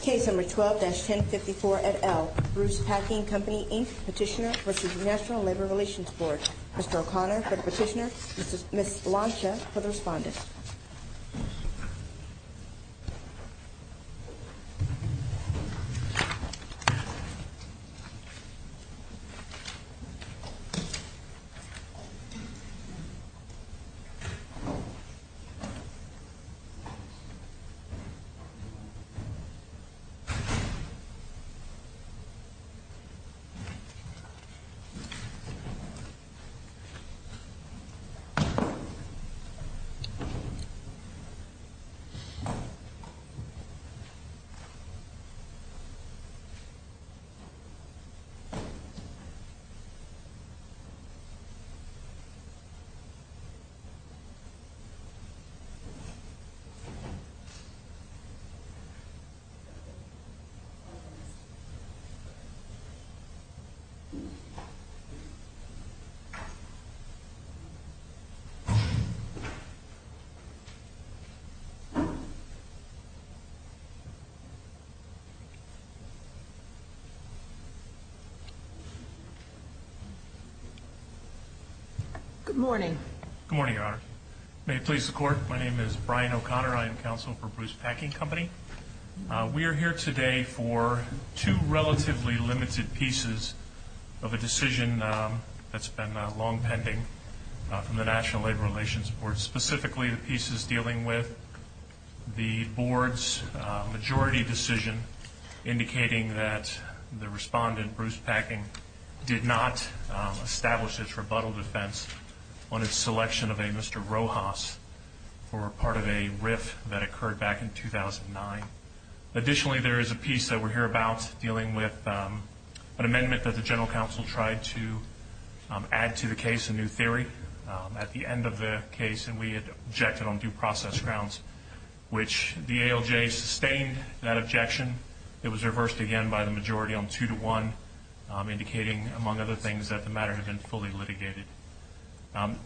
Case number 12-1054 at L. Bruce Packing Company, Inc. Petitioner versus National Labor Relations Board. Mr. O'Connor for the petitioner, Ms. Blancha for the respondent. Case number 12-1054 at L. Bruce Packing Company, Inc. Mr. O'Connor for the respondent. We are here today for two relatively limited pieces of a decision that's been long pending from the National Labor Relations Board, specifically the pieces dealing with the board's majority decision indicating that the respondent, Bruce Packing, did not establish his rebuttal defense on his selection of a Mr. Rojas for part of a RIF that occurred back in 2009. Additionally, there is a piece that we're here about dealing with an amendment that the General Counsel tried to add to the case, a new theory, at the end of the case, and we had objected on due process grounds, which the ALJ sustained that objection. It was reversed again by the majority on 2-1, indicating, among other things, that the matter had been fully litigated.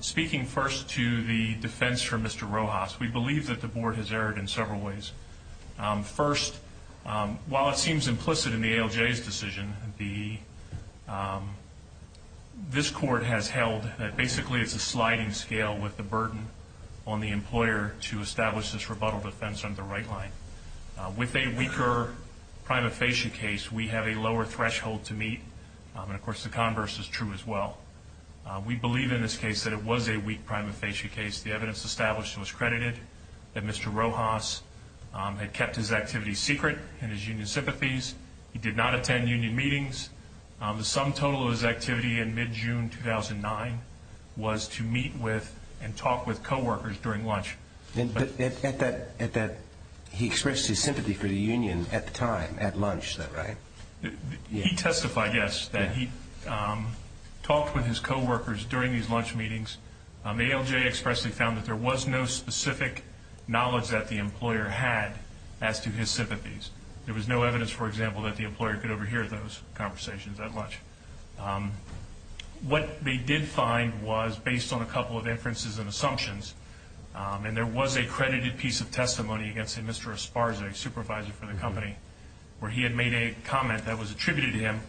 Speaking first to the defense for Mr. Rojas, we believe that the board has erred in several ways. First, while it seems implicit in the ALJ's decision, this court has held that basically it's a sliding scale with the burden on the employer to establish this rebuttal defense on the right line. With a weaker prima facie case, we have a lower threshold to meet, and of course the converse is true as well. We believe in this case that it was a weak prima facie case. The evidence established was credited that Mr. Rojas had kept his activities secret and his union sympathies. He did not attend union meetings. The sum total of his activity in mid-June 2009 was to meet with and talk with coworkers during lunch. He expressed his sympathy for the union at the time, at lunch, right? He testified, yes, that he talked with his coworkers during these lunch meetings. The ALJ expressly found that there was no specific knowledge that the employer had as to his sympathies. There was no evidence, for example, that the employer could overhear those conversations at lunch. What they did find was, based on a couple of inferences and assumptions, and there was a credited piece of testimony against Mr. Esparza, a supervisor for the company, where he had made a comment that was attributed to him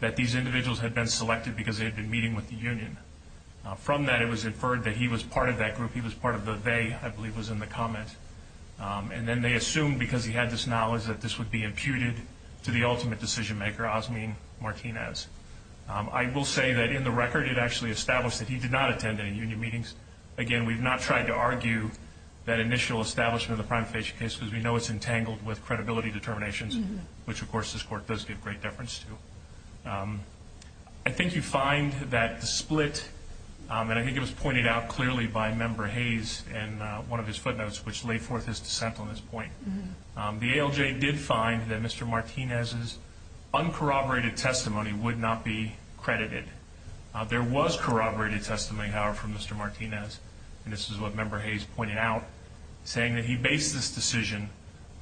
that these individuals had been selected because they had been meeting with the union. From that, it was inferred that he was part of that group. He was part of the they, I believe was in the comment. And then they assumed, because he had this knowledge, that this would be imputed to the ultimate decision-maker, Osmean Martinez. I will say that, in the record, it actually established that he did not attend any union meetings. Again, we've not tried to argue that initial establishment of the prima facie case because we know it's entangled with credibility determinations, which, of course, this Court does give great deference to. I think you find that the split, and I think it was pointed out clearly by Member Hayes in one of his footnotes, which lay forth his dissent on this point. The ALJ did find that Mr. Martinez's uncorroborated testimony would not be credited. There was corroborated testimony, however, from Mr. Martinez, and this is what Member Hayes pointed out, saying that he based this decision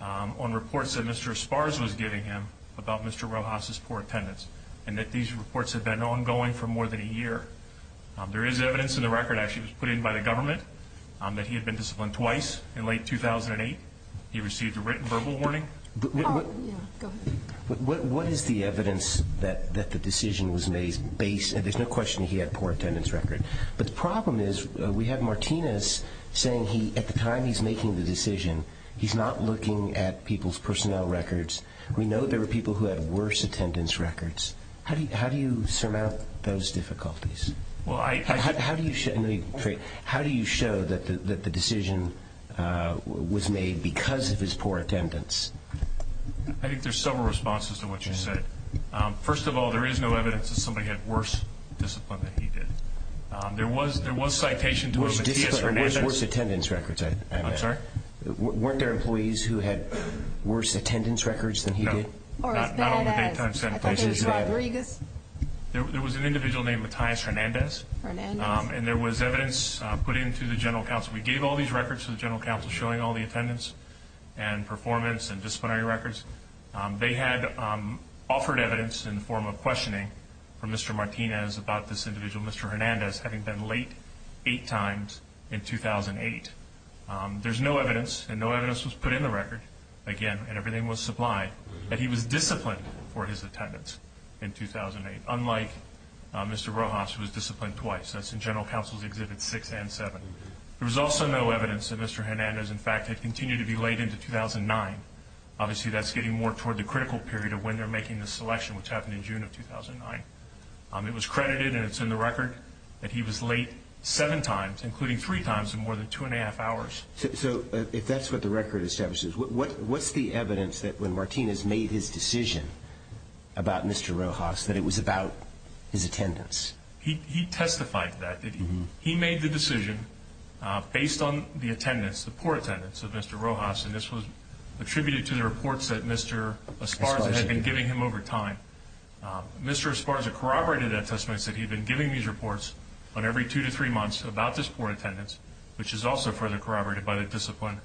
on reports that Mr. Esparza was giving him about Mr. Rojas's poor attendance and that these reports had been ongoing for more than a year. There is evidence in the record, actually, that was put in by the government that he had been disciplined twice in late 2008. He received a written verbal warning. What is the evidence that the decision was based, and there's no question he had a poor attendance record, but the problem is we have Martinez saying at the time he's making the decision, he's not looking at people's personnel records. We know there were people who had worse attendance records. How do you surmount those difficulties? How do you show that the decision was made because of his poor attendance? I think there's several responses to what you said. First of all, there is no evidence that somebody had worse discipline than he did. There was citation to it. Worse attendance records, I meant. I'm sorry? Weren't there employees who had worse attendance records than he did? No. I thought there was Rodriguez. There was an individual named Matthias Hernandez, and there was evidence put into the General Counsel. We gave all these records to the General Counsel showing all the attendance and performance and disciplinary records. They had offered evidence in the form of questioning from Mr. Martinez about this individual, Mr. Hernandez, having been late eight times in 2008. There's no evidence, and no evidence was put in the record, again, and everything was supplied, that he was disciplined for his attendance in 2008, unlike Mr. Rojas, who was disciplined twice. That's in General Counsel's Exhibits 6 and 7. There was also no evidence that Mr. Hernandez, in fact, had continued to be late into 2009. Obviously, that's getting more toward the critical period of when they're making the selection, which happened in June of 2009. It was credited, and it's in the record, that he was late seven times, including three times in more than two and a half hours. So if that's what the record establishes, what's the evidence that when Martinez made his decision about Mr. Rojas that it was about his attendance? He testified to that. He made the decision based on the attendance, the poor attendance of Mr. Rojas, and this was attributed to the reports that Mr. Esparza had been giving him over time. Mr. Esparza corroborated that testimony and said he had been giving these reports on every two to three months about this poor attendance, which is also further corroborated by the discipline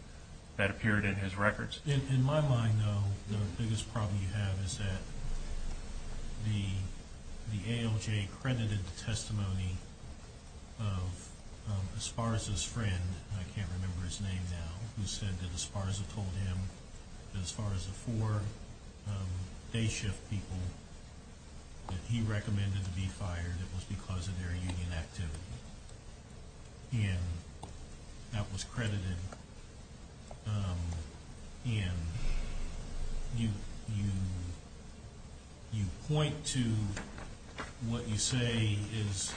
that appeared in his records. In my mind, though, the biggest problem you have is that the ALJ credited the testimony of Esparza's friend. I can't remember his name now. He said that Esparza told him that as far as the four day shift people that he recommended to be fired, it was because of their union activity. And that was credited. And you point to what you say is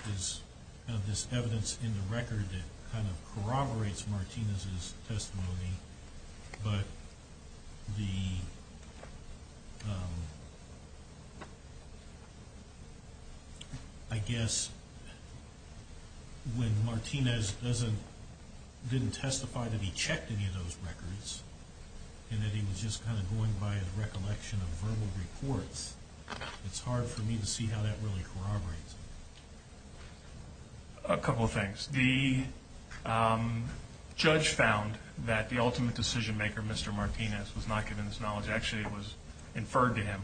this evidence in the record that kind of corroborates Martinez's testimony, but I guess when Martinez didn't testify that he checked any of those records and that he was just kind of going by a recollection of verbal reports, it's hard for me to see how that really corroborates it. A couple of things. The judge found that the ultimate decision maker, Mr. Martinez, was not given this knowledge. Actually, it was inferred to him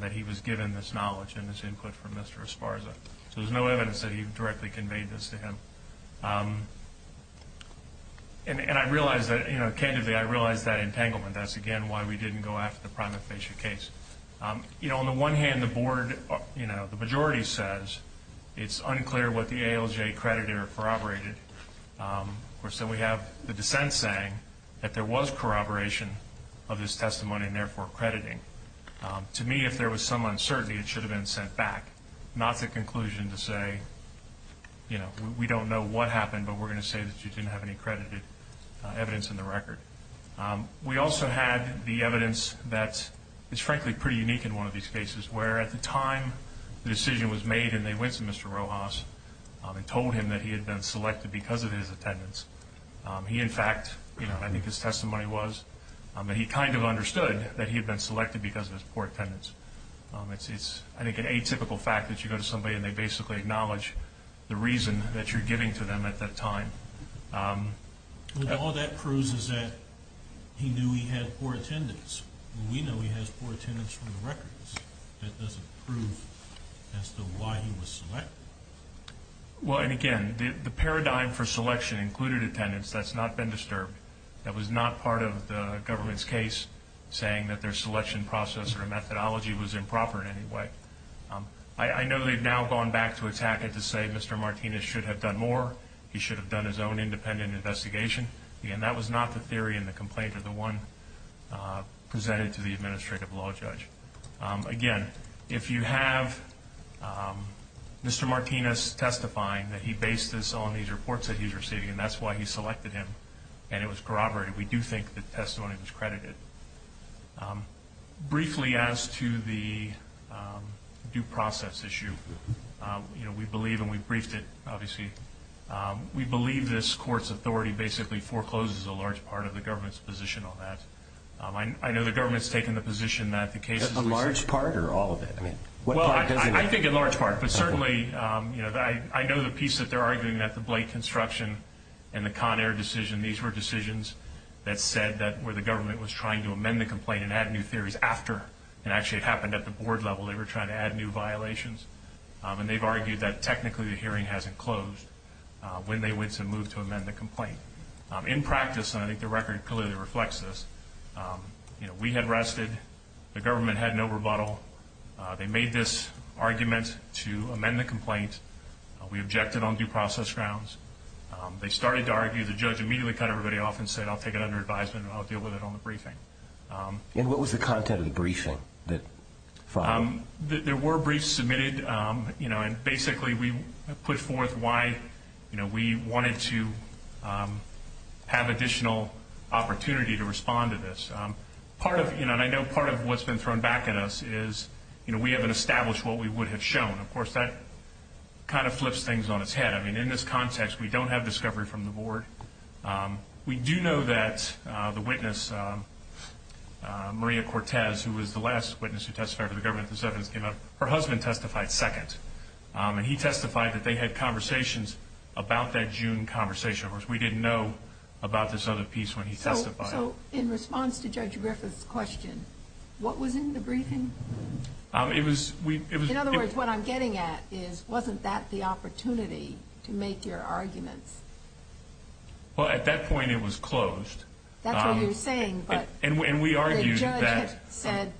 that he was given this knowledge and this input from Mr. Esparza. So there's no evidence that he directly conveyed this to him. And I realize that, candidly, I realize that entanglement. That's, again, why we didn't go after the prima facie case. On the one hand, the majority says it's unclear what the ALJ creditor corroborated. Of course, then we have the dissent saying that there was corroboration of his testimony and, therefore, crediting. To me, if there was some uncertainty, it should have been sent back, not the conclusion to say we don't know what happened, but we're going to say that you didn't have any credited evidence in the record. We also had the evidence that is, frankly, pretty unique in one of these cases, where at the time the decision was made and they went to Mr. Rojas and told him that he had been selected because of his attendance. He, in fact, I think his testimony was that he kind of understood that he had been selected because of his poor attendance. It's, I think, an atypical fact that you go to somebody and they basically acknowledge the reason that you're giving to them at that time. All that proves is that he knew he had poor attendance. We know he has poor attendance from the records. That doesn't prove as to why he was selected. Well, and again, the paradigm for selection included attendance. That's not been disturbed. That was not part of the government's case saying that their selection process or methodology was improper in any way. I know they've now gone back to attack it to say Mr. Martinez should have done more. He should have done his own independent investigation. Again, that was not the theory in the complaint or the one presented to the administrative law judge. Again, if you have Mr. Martinez testifying that he based this on these reports that he's receiving and that's why he selected him and it was corroborated, we do think the testimony was credited. Briefly as to the due process issue, we believe, and we briefed it, obviously, we believe this court's authority basically forecloses a large part of the government's position on that. I know the government's taken the position that the case is- A large part or all of it? Well, I think a large part, but certainly I know the piece that they're arguing, that the Blake construction and the Conair decision, these were decisions that said that where the government was trying to amend the complaint and add new theories after, and actually it happened at the board level. They were trying to add new violations, and they've argued that technically the hearing hasn't closed when they went to move to amend the complaint. In practice, and I think the record clearly reflects this, we had rested. The government had no rebuttal. They made this argument to amend the complaint. We objected on due process grounds. They started to argue. The judge immediately cut everybody off and said, I'll take it under advisement and I'll deal with it on the briefing. And what was the content of the briefing that followed? There were briefs submitted, and basically we put forth why we wanted to have additional opportunity to respond to this. And I know part of what's been thrown back at us is we haven't established what we would have shown. Of course, that kind of flips things on its head. I mean, in this context, we don't have discovery from the board. We do know that the witness, Maria Cortez, who was the last witness who testified for the government, her husband testified second, and he testified that they had conversations about that June conversation. Of course, we didn't know about this other piece when he testified. So in response to Judge Griffith's question, what was in the briefing? In other words, what I'm getting at is wasn't that the opportunity to make your arguments? Well, at that point it was closed. That's what you're saying, but the judge had said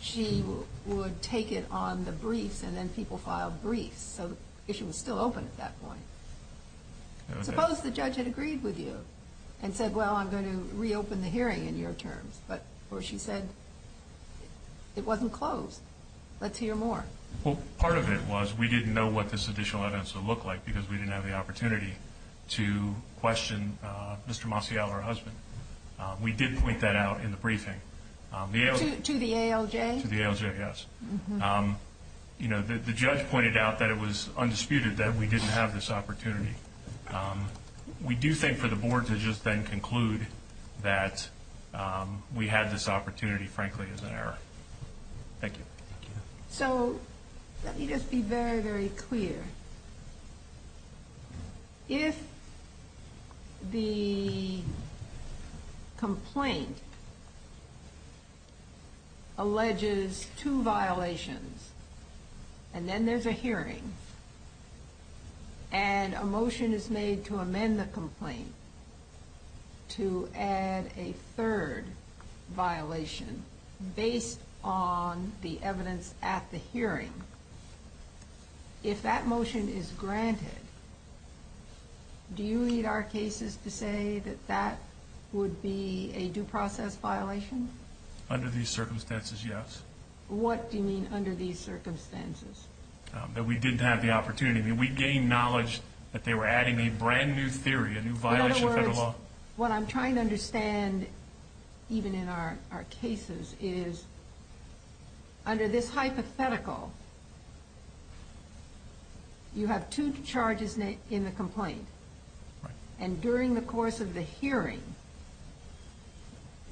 she would take it on the briefs and then people filed briefs. So the issue was still open at that point. Suppose the judge had agreed with you and said, well, I'm going to reopen the hearing in your terms. But where she said it wasn't closed, let's hear more. Well, part of it was we didn't know what this additional evidence would look like because we didn't have the opportunity to question Mr. Maciel, her husband. We did point that out in the briefing. To the ALJ? To the ALJ, yes. You know, the judge pointed out that it was undisputed that we didn't have this opportunity. We do think for the board to just then conclude that we had this opportunity, frankly, is an error. Thank you. So let me just be very, very clear. If the complaint alleges two violations and then there's a hearing and a motion is made to amend the complaint to add a third violation based on the evidence at the hearing, if that motion is granted, do you need our cases to say that that would be a due process violation? Under these circumstances, yes. What do you mean under these circumstances? That we didn't have the opportunity. We gained knowledge that they were adding a brand new theory, a new violation of federal law. So what I'm trying to understand, even in our cases, is under this hypothetical, you have two charges in the complaint. And during the course of the hearing,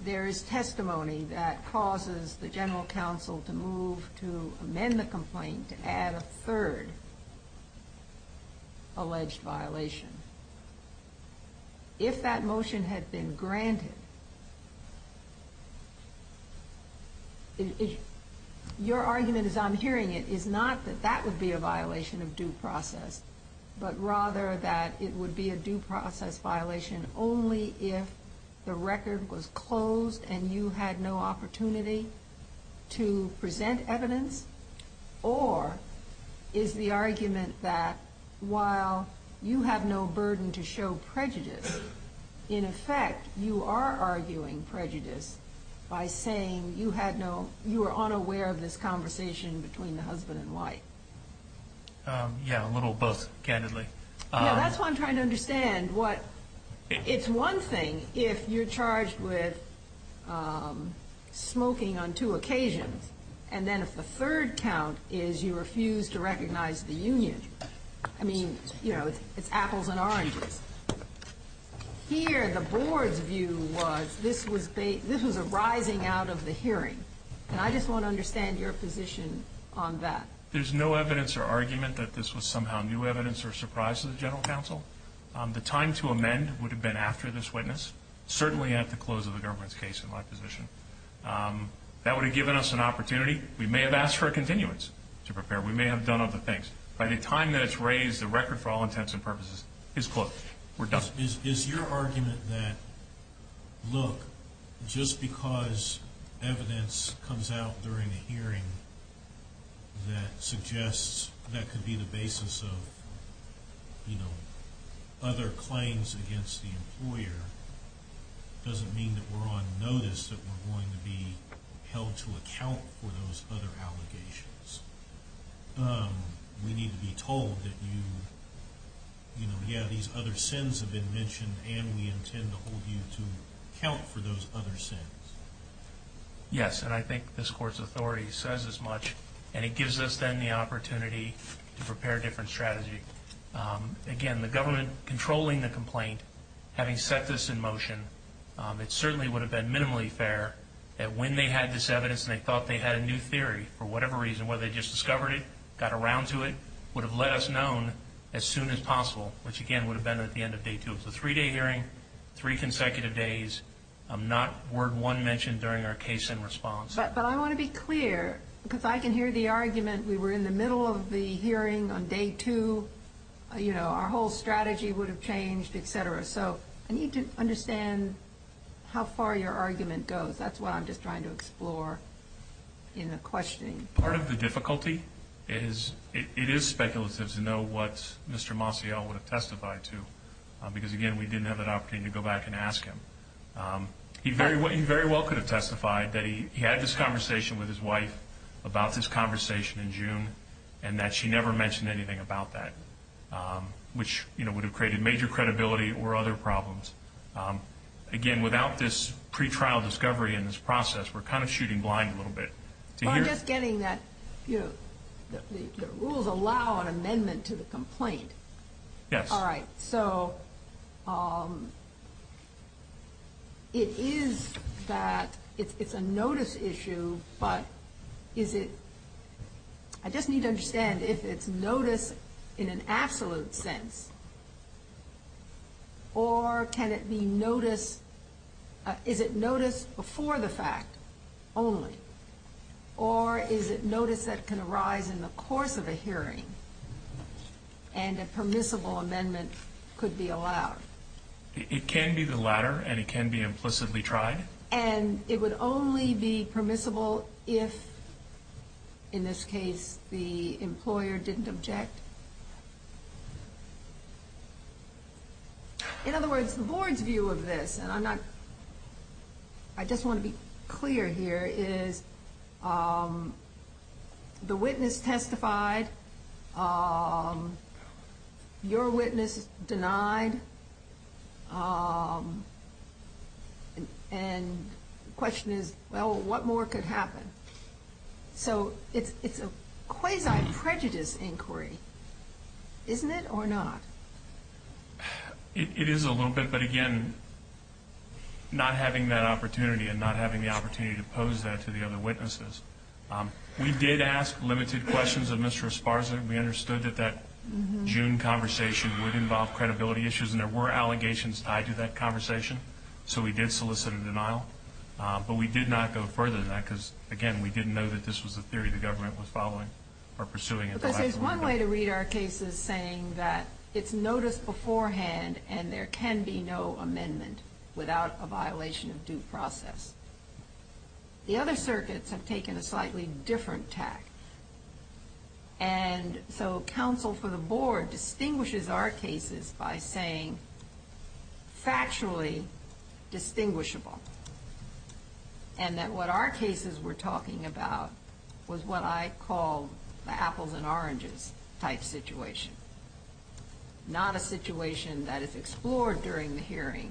there is testimony that causes the general counsel to move to amend the complaint to add a third alleged violation. If that motion had been granted, your argument as I'm hearing it is not that that would be a violation of due process, but rather that it would be a due process violation only if the record was closed and you had no opportunity to present evidence, or is the argument that while you have no burden to show prejudice, in effect you are arguing prejudice by saying you were unaware of this conversation between the husband and wife. Yeah, a little of both, candidly. Yeah, that's what I'm trying to understand. It's one thing if you're charged with smoking on two occasions, and then if the third count is you refuse to recognize the union. I mean, you know, it's apples and oranges. Here, the board's view was this was a rising out of the hearing, and I just want to understand your position on that. There's no evidence or argument that this was somehow new evidence or a surprise to the general counsel. The time to amend would have been after this witness, certainly at the close of the government's case in my position. That would have given us an opportunity. We may have asked for a continuance to prepare. We may have done other things. By the time that it's raised, the record for all intents and purposes is closed. We're done. Is your argument that, look, just because evidence comes out during the hearing that suggests that could be the basis of, you know, other claims against the employer doesn't mean that we're on notice that we're going to be held to account for those other allegations? We need to be told that, you know, yeah, these other sins have been mentioned, and we intend to hold you to account for those other sins. Yes, and I think this Court's authority says as much, and it gives us then the opportunity to prepare a different strategy. Again, the government controlling the complaint, having set this in motion, it certainly would have been minimally fair that when they had this evidence and they thought they had a new theory for whatever reason, whether they just discovered it, got around to it, would have let us known as soon as possible, which again would have been at the end of day two of the three-day hearing, three consecutive days, not word one mentioned during our case in response. We were in the middle of the hearing on day two. You know, our whole strategy would have changed, et cetera. So I need to understand how far your argument goes. That's what I'm just trying to explore in the questioning. Part of the difficulty is it is speculative to know what Mr. Maciel would have testified to because, again, we didn't have an opportunity to go back and ask him. He very well could have testified that he had this conversation with his wife about this conversation in June and that she never mentioned anything about that, which would have created major credibility or other problems. Again, without this pretrial discovery in this process, we're kind of shooting blind a little bit. I'm just getting that the rules allow an amendment to the complaint. Yes. All right. So it is that it's a notice issue, but is it – I just need to understand if it's notice in an absolute sense or can it be notice – is it notice before the fact only or is it notice that can arise in the course of a hearing and a permissible amendment could be allowed? It can be the latter and it can be implicitly tried. And it would only be permissible if, in this case, the employer didn't object? In other words, the board's view of this, and I'm not – I just want to be clear here, is the witness testified, your witness denied, and the question is, well, what more could happen? So it's a quasi-prejudice inquiry, isn't it, or not? It is a little bit, but again, not having that opportunity and not having the opportunity to pose that to the other witnesses. We did ask limited questions of Mr. Esparza. We understood that that June conversation would involve credibility issues and there were allegations tied to that conversation, so we did solicit a denial. But we did not go further than that because, again, we didn't know that this was a theory the government was following or pursuing. But there's one way to read our cases saying that it's notice beforehand and there can be no amendment without a violation of due process. The other circuits have taken a slightly different tack. And so counsel for the board distinguishes our cases by saying factually distinguishable and that what our cases were talking about was what I call the apples and oranges type situation, not a situation that is explored during the hearing.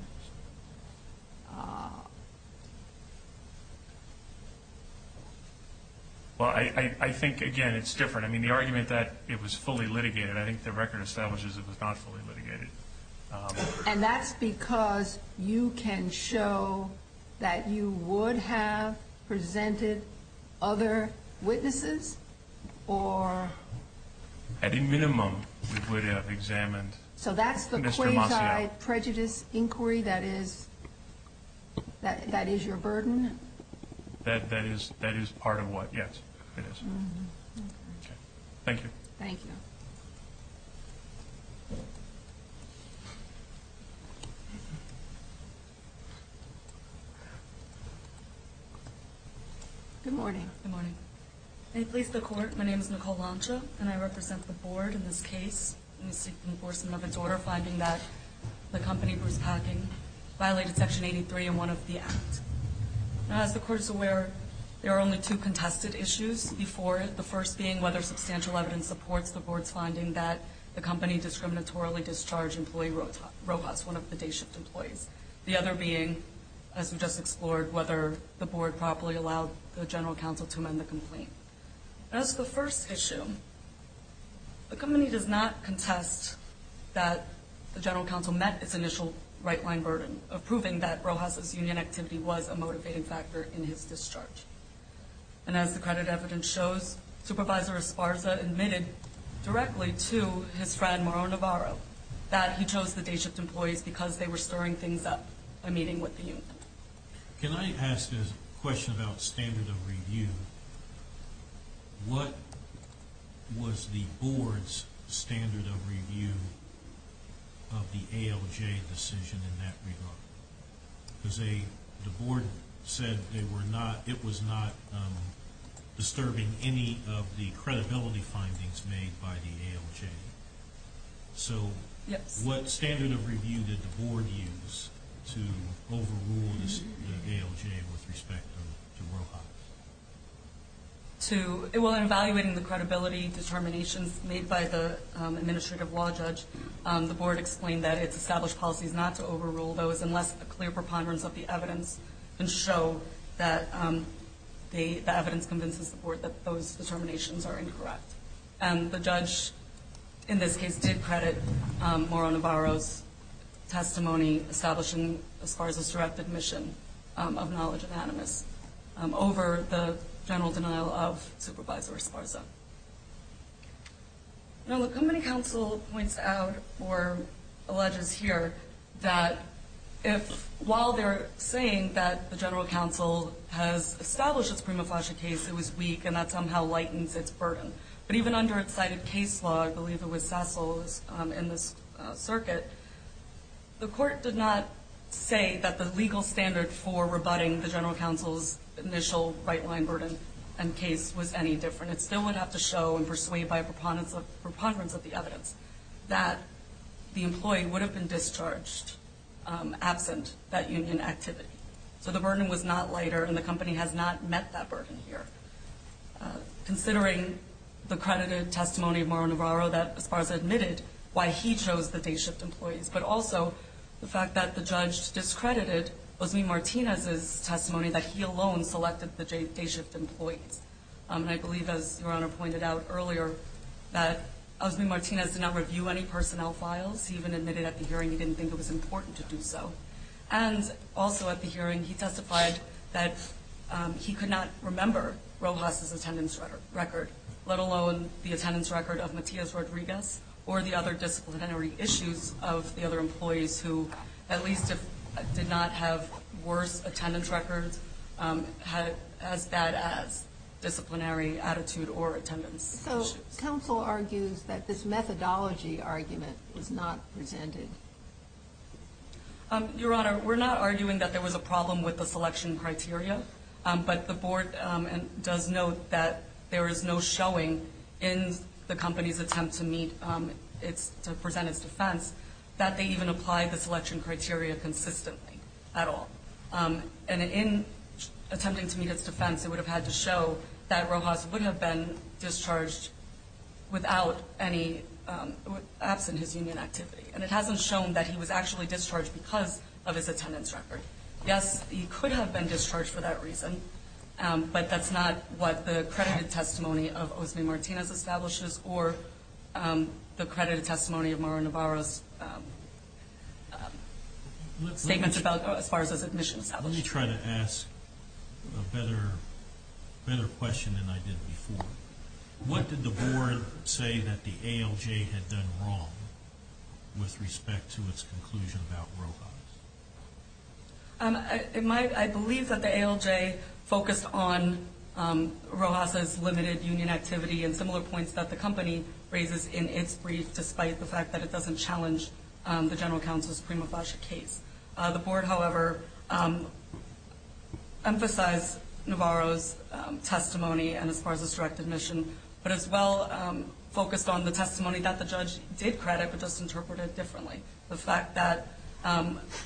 Well, I think, again, it's different. I mean, the argument that it was fully litigated, I think the record establishes it was not fully litigated. And that's because you can show that you would have presented other witnesses or? At a minimum, we would have examined Mr. Masiano. So that's the quasi-prejudice inquiry. That is your burden? That is part of what, yes, it is. Okay. Thank you. Thank you. Good morning. Good morning. May it please the Court, my name is Nicole Lancia, and I represent the board in this case seeking enforcement of its order, finding that the company Bruce Packing violated Section 83 in one of the acts. Now, as the Court is aware, there are only two contested issues before it, the first being whether substantial evidence supports the board's finding that the company discriminatorily discharged employee robots, one of the day-shift employees. The other being, as we just explored, whether the board properly allowed the general counsel to amend the complaint. As for the first issue, the company does not contest that the general counsel met its initial right-line burden of proving that Rojas' union activity was a motivating factor in his discharge. And as the credit evidence shows, Supervisor Esparza admitted directly to his friend, Mauro Navarro, that he chose the day-shift employees because they were stirring things up by meeting with the union. Can I ask a question about standard of review? What was the board's standard of review of the ALJ decision in that regard? Because the board said it was not disturbing any of the credibility findings made by the ALJ. So what standard of review did the board use to overrule the ALJ with respect to Rojas? Well, in evaluating the credibility determinations made by the administrative law judge, the board explained that its established policy is not to overrule those unless a clear preponderance of the evidence can show that the evidence convinces the board that those determinations are incorrect. And the judge, in this case, did credit Mauro Navarro's testimony, establishing Esparza's direct admission of knowledge of animus, over the general denial of Supervisor Esparza. Now, the company counsel points out or alleges here that if, while they're saying that the general counsel has established its prima facie case, it was weak and that somehow lightens its burden. But even under its cited case law, I believe it was Cecil's in this circuit, the court did not say that the legal standard for rebutting the general counsel's initial right-line burden and case was any different. It still would have to show and persuade by a preponderance of the evidence that the employee would have been discharged absent that union activity. So the burden was not lighter and the company has not met that burden here. Considering the credited testimony of Mauro Navarro, that Esparza admitted why he chose the day shift employees, but also the fact that the judge discredited Osme Martinez's testimony that he alone selected the day shift employees. And I believe, as Your Honor pointed out earlier, that Osme Martinez did not review any personnel files. He even admitted at the hearing he didn't think it was important to do so. And also at the hearing he testified that he could not remember Rojas's attendance record, let alone the attendance record of Matias Rodriguez or the other disciplinary issues of the other employees who, at least if did not have worse attendance records, had as bad as disciplinary attitude or attendance issues. Counsel argues that this methodology argument was not presented. Your Honor, we're not arguing that there was a problem with the selection criteria, but the board does note that there is no showing in the company's attempt to present its defense that they even applied the selection criteria consistently at all. And in attempting to meet its defense, it would have had to show that Rojas would have been discharged without any, absent his union activity. And it hasn't shown that he was actually discharged because of his attendance record. Yes, he could have been discharged for that reason, but that's not what the credited testimony of Osme Martinez establishes or the credited testimony of Mauro Navarro's statements as far as his admission is established. Let me try to ask a better question than I did before. What did the board say that the ALJ had done wrong with respect to its conclusion about Rojas? I believe that the ALJ focused on Rojas's limited union activity and similar points that the company raises in its brief, despite the fact that it doesn't challenge the general counsel's prima facie case. The board, however, emphasized Navarro's testimony as far as his direct admission, but as well focused on the testimony that the judge did credit, but just interpreted differently. The fact that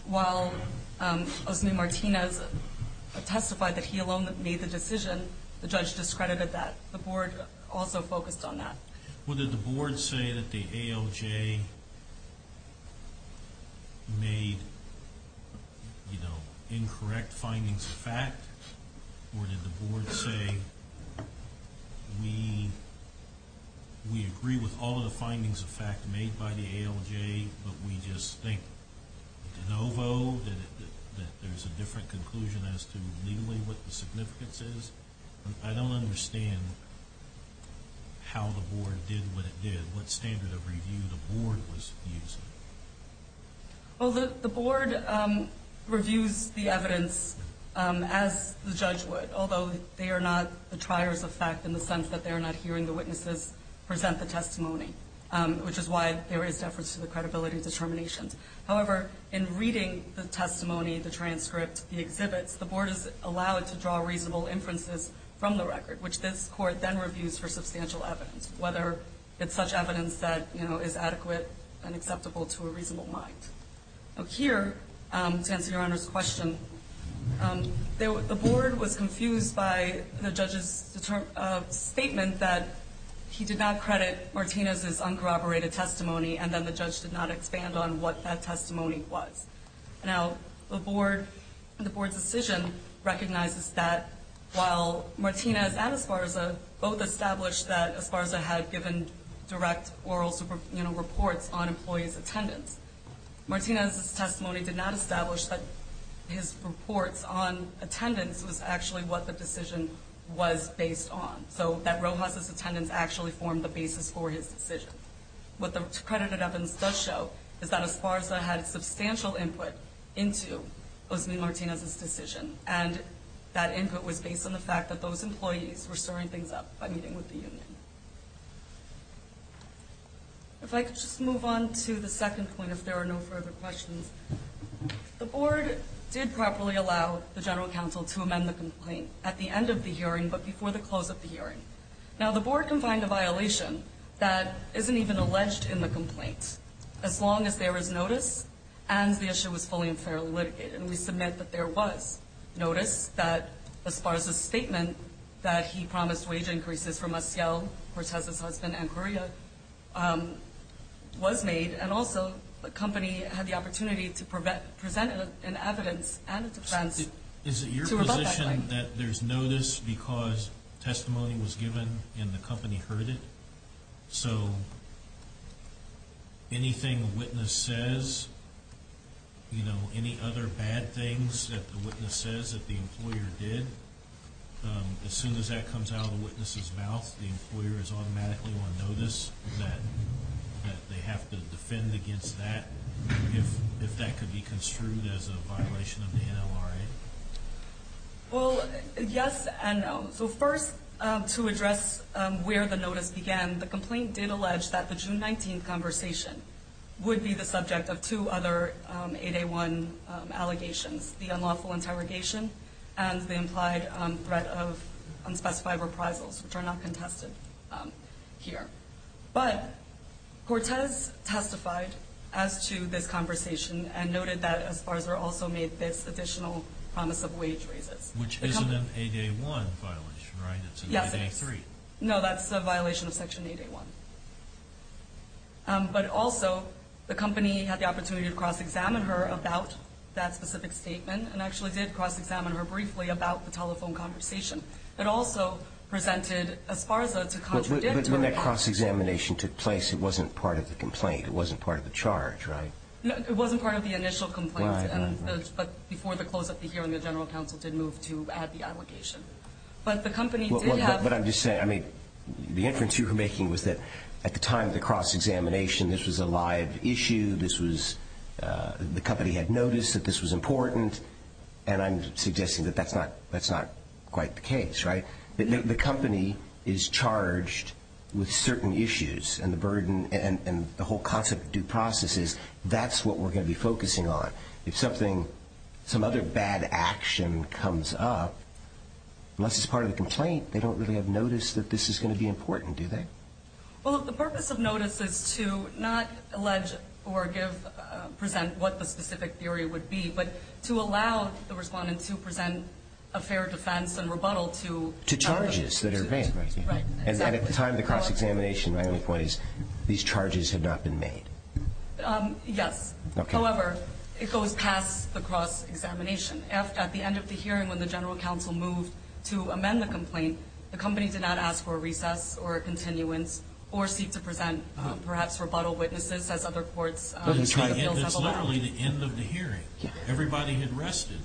while Osme Martinez testified that he alone made the decision, the judge discredited that. The board also focused on that. Well, did the board say that the ALJ made incorrect findings of fact, or did the board say, we agree with all of the findings of fact made by the ALJ, but we just think de novo that there's a different conclusion as to legally what the significance is? I don't understand how the board did what it did. What standard of review the board was using? Well, the board reviews the evidence as the judge would, although they are not the triers of fact in the sense that they are not hearing the witnesses present the testimony, which is why there is deference to the credibility determinations. However, in reading the testimony, the transcript, the exhibits, the board is allowed to draw reasonable inferences from the record, which this court then reviews for substantial evidence, whether it's such evidence that is adequate and acceptable to a reasonable mind. Here, to answer Your Honor's question, the board was confused by the judge's statement that he did not credit Martinez's uncorroborated testimony, and then the judge did not expand on what that testimony was. Now, the board's decision recognizes that while Martinez and Esparza both established that Esparza had given direct oral reports on employees' attendance, Martinez's testimony did not establish that his reports on attendance was actually what the decision was based on, so that Rojas's attendance actually formed the basis for his decision. What the accredited evidence does show is that Esparza had substantial input into Osmond Martinez's decision, and that input was based on the fact that those employees were stirring things up by meeting with the union. If I could just move on to the second point, if there are no further questions. The board did properly allow the general counsel to amend the complaint at the end of the hearing, but before the close of the hearing. Now, the board can find a violation that isn't even alleged in the complaint, as long as there is notice and the issue is fully and fairly litigated, and we submit that there was notice that Esparza's statement that he promised wage increases for Maciel, Cortez's husband, and Correa was made, and also the company had the opportunity to present an evidence and a defense to rebut that claim. That there's notice because testimony was given and the company heard it, so anything a witness says, you know, any other bad things that the witness says that the employer did, as soon as that comes out of the witness's mouth, the employer is automatically on notice that they have to defend against that if that could be construed as a violation of the NLRA. Well, yes and no. So first, to address where the notice began, the complaint did allege that the June 19th conversation would be the subject of two other 8A1 allegations, the unlawful interrogation and the implied threat of unspecified reprisals, which are not contested here. But Cortez testified as to this conversation and noted that Esparza also made this additional promise of wage raises. Which isn't an 8A1 violation, right? It's an 8A3. No, that's a violation of Section 8A1. But also, the company had the opportunity to cross-examine her about that specific statement and actually did cross-examine her briefly about the telephone conversation. It also presented Esparza to contradict it. But when that cross-examination took place, it wasn't part of the complaint. It wasn't part of the charge, right? No, it wasn't part of the initial complaint. Right, right, right. But before the close of the hearing, the general counsel did move to add the allegation. But the company did have... But I'm just saying, I mean, the inference you were making was that at the time of the cross-examination, this was a live issue, this was the company had noticed that this was important, and I'm suggesting that that's not quite the case, right? The company is charged with certain issues and the burden and the whole concept of due process is that's what we're going to be focusing on. If something, some other bad action comes up, unless it's part of the complaint, they don't really have notice that this is going to be important, do they? Well, the purpose of notice is to not allege or present what the specific theory would be, but to allow the respondent to present a fair defense and rebuttal to charges. To charges that are being raised. Right. And at the time of the cross-examination, my only point is these charges have not been made. Yes. Okay. However, it goes past the cross-examination. At the end of the hearing when the general counsel moved to amend the complaint, the company did not ask for a recess or a continuance or seek to present perhaps rebuttal witnesses as other courts... That's literally the end of the hearing. Everybody had rested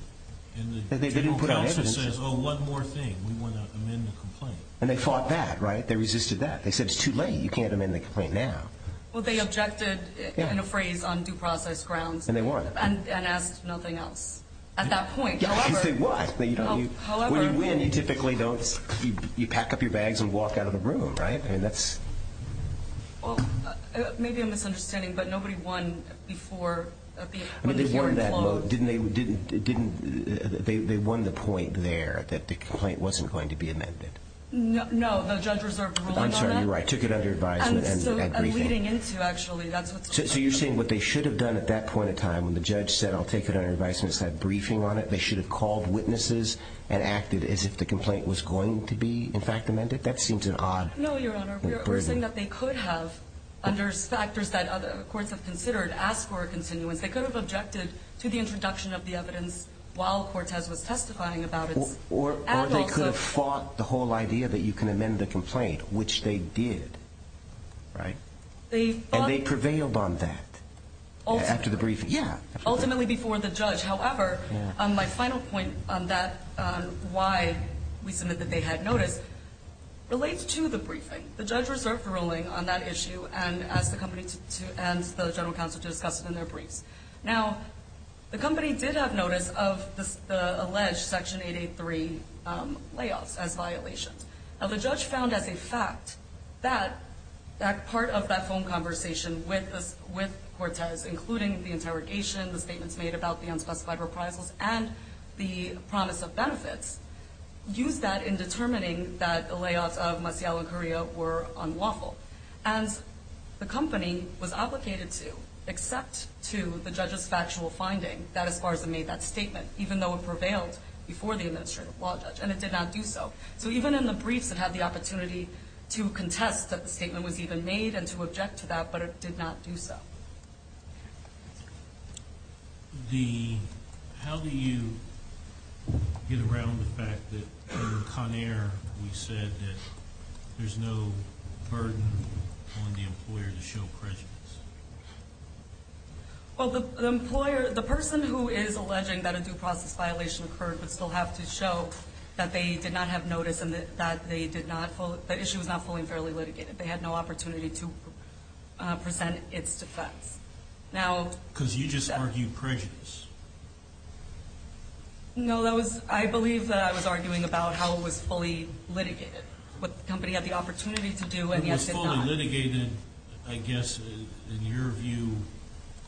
and the general counsel says, oh, one more thing, we want to amend the complaint. And they fought that, right? They resisted that. They said it's too late, you can't amend the complaint now. Well, they objected in a phrase on due process grounds. And they won. And asked nothing else. At that point, however... Yes, they won. When you win, you typically don't, you pack up your bags and walk out of the room, right? I mean, that's... Well, maybe I'm misunderstanding, but nobody won before... I mean, they won that vote. Didn't they, they won the point there that the complaint wasn't going to be amended? No, the judge reserved ruling on that. I'm sorry, you're right. Took it under advisement and briefing. And leading into, actually, that's what's... So you're saying what they should have done at that point in time when the judge said, I'll take it under advisement and said briefing on it, they should have called witnesses and acted as if the complaint was going to be, in fact, amended? That seems an odd... No, Your Honor. We're saying that they could have, under factors that other courts have considered, asked for a continuance. They could have objected to the introduction of the evidence while Cortez was testifying about its... Or they could have fought the whole idea that you can amend the complaint, which they did, right? And they prevailed on that after the briefing. Ultimately before the judge. However, my final point on that, on why we submit that they had notice, relates to the briefing. The judge reserved ruling on that issue and asked the company and the general counsel to discuss it in their briefs. Now, the company did have notice of the alleged Section 883 layoffs as violations. Now, the judge found as a fact that part of that phone conversation with Cortez, including the interrogation, the statements made about the unspecified reprisals, and the promise of benefits, used that in determining that the layoffs of Maciel and Correa were unlawful. And the company was obligated to accept to the judge's factual finding that Esparza made that statement, even though it prevailed before the administrative law judge. And it did not do so. So even in the briefs, it had the opportunity to contest that the statement was even made and to object to that, but it did not do so. How do you get around the fact that in Conair we said that there's no burden on the employer to show prejudice? Well, the employer, the person who is alleging that a due process violation occurred would still have to show that they did not have notice and that the issue was not fully and fairly litigated. They had no opportunity to present its defense. Because you just argued prejudice. No, I believe that I was arguing about how it was fully litigated, what the company had the opportunity to do and yet did not. It was fully litigated, I guess, in your view,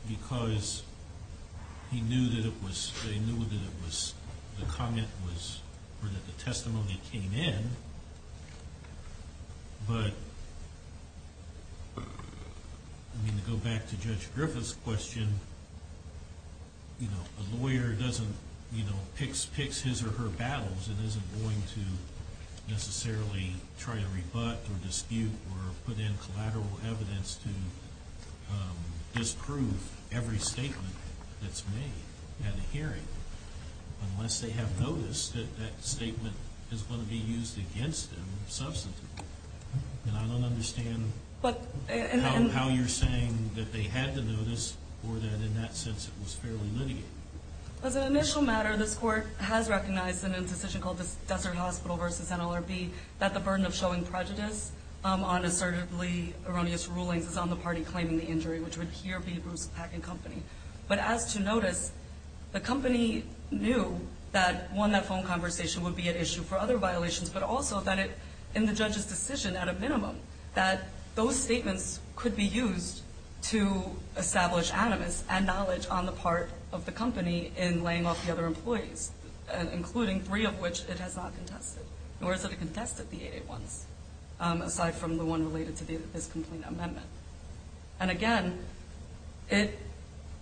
because they knew that the testimony came in, but to go back to Judge Griffith's question, a lawyer picks his or her battles and isn't going to necessarily try to rebut or dispute or put in collateral evidence to disprove every statement that's made at a hearing unless they have noticed that that statement is going to be used against them substantively. And I don't understand how you're saying that they had to notice or that in that sense it was fairly litigated. As an initial matter, this Court has recognized in a decision called Desert Hospital v. NLRB that the burden of showing prejudice on assertively erroneous rulings is on the party claiming the injury, which would here be Bruce Pack and Company. But as to notice, the company knew that, one, that phone conversation would be an issue for other violations, but also that in the judge's decision, at a minimum, that those statements could be used to establish animus and knowledge on the part of the company in laying off the other employees, including three of which it has not contested, nor has it contested the 8-8-1s, aside from the one related to this complaint amendment. And again, it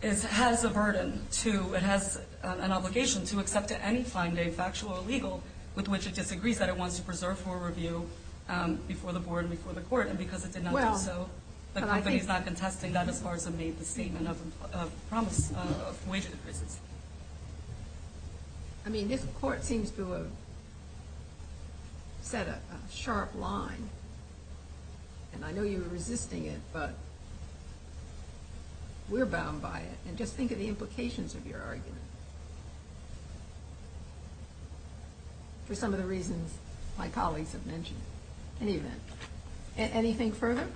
has a burden to, it has an obligation to accept to any find a factual or legal with which it disagrees that it wants to preserve for review before the Board and before the Court, and because it did not do so, the company has not been testing that as far as it made the statement of promise of wage increases. I mean, this Court seems to have set a sharp line, and I know you're resisting it, but we're bound by it, and just think of the implications of your argument for some of the reasons my colleagues have mentioned. At any event, anything further?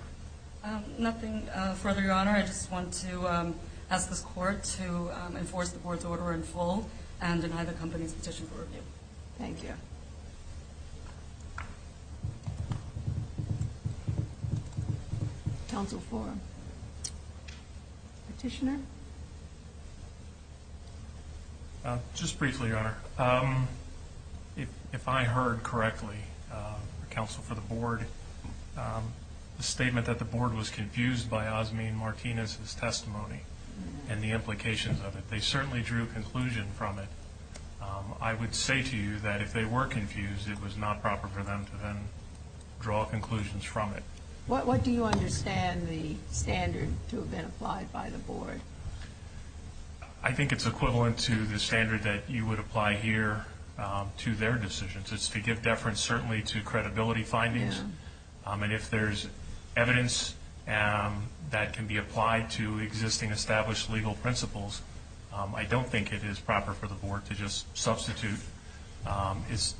Nothing further, Your Honor. I just want to ask this Court to enforce the Board's order in full and deny the company's petition for review. Thank you. Counsel for Petitioner? Just briefly, Your Honor. If I heard correctly, counsel for the Board, the statement that the Board was confused by Osmean Martinez's testimony and the implications of it, they certainly drew a conclusion from it. I would say to you that if they were confused, it was not proper for them to then draw conclusions from it. What do you understand the standard to have been applied by the Board? I think it's equivalent to the standard that you would apply here to their decisions. It's to give deference certainly to credibility findings, and if there's evidence that can be applied to existing established legal principles, I don't think it is proper for the Board to just substitute its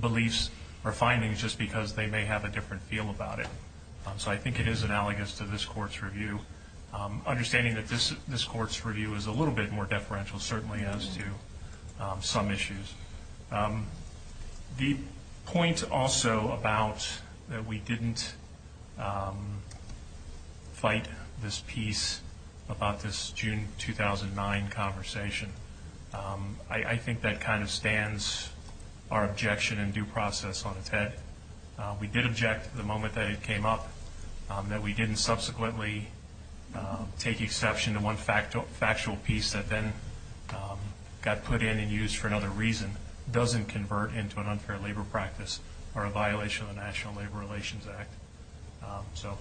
beliefs or findings just because they may have a different feel about it. So I think it is analogous to this Court's review, understanding that this Court's review is a little bit more deferential certainly as to some issues. The point also about that we didn't fight this piece about this June 2009 conversation, I think that kind of stands our objection and due process on its head. We did object the moment that it came up that we didn't subsequently take exception to one factual piece that then got put in and used for another reason doesn't convert into an unfair labor practice or a violation of the National Labor Relations Act. So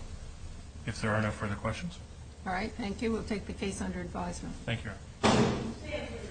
if there are no further questions? All right, thank you. We'll take the case under advisement. Thank you.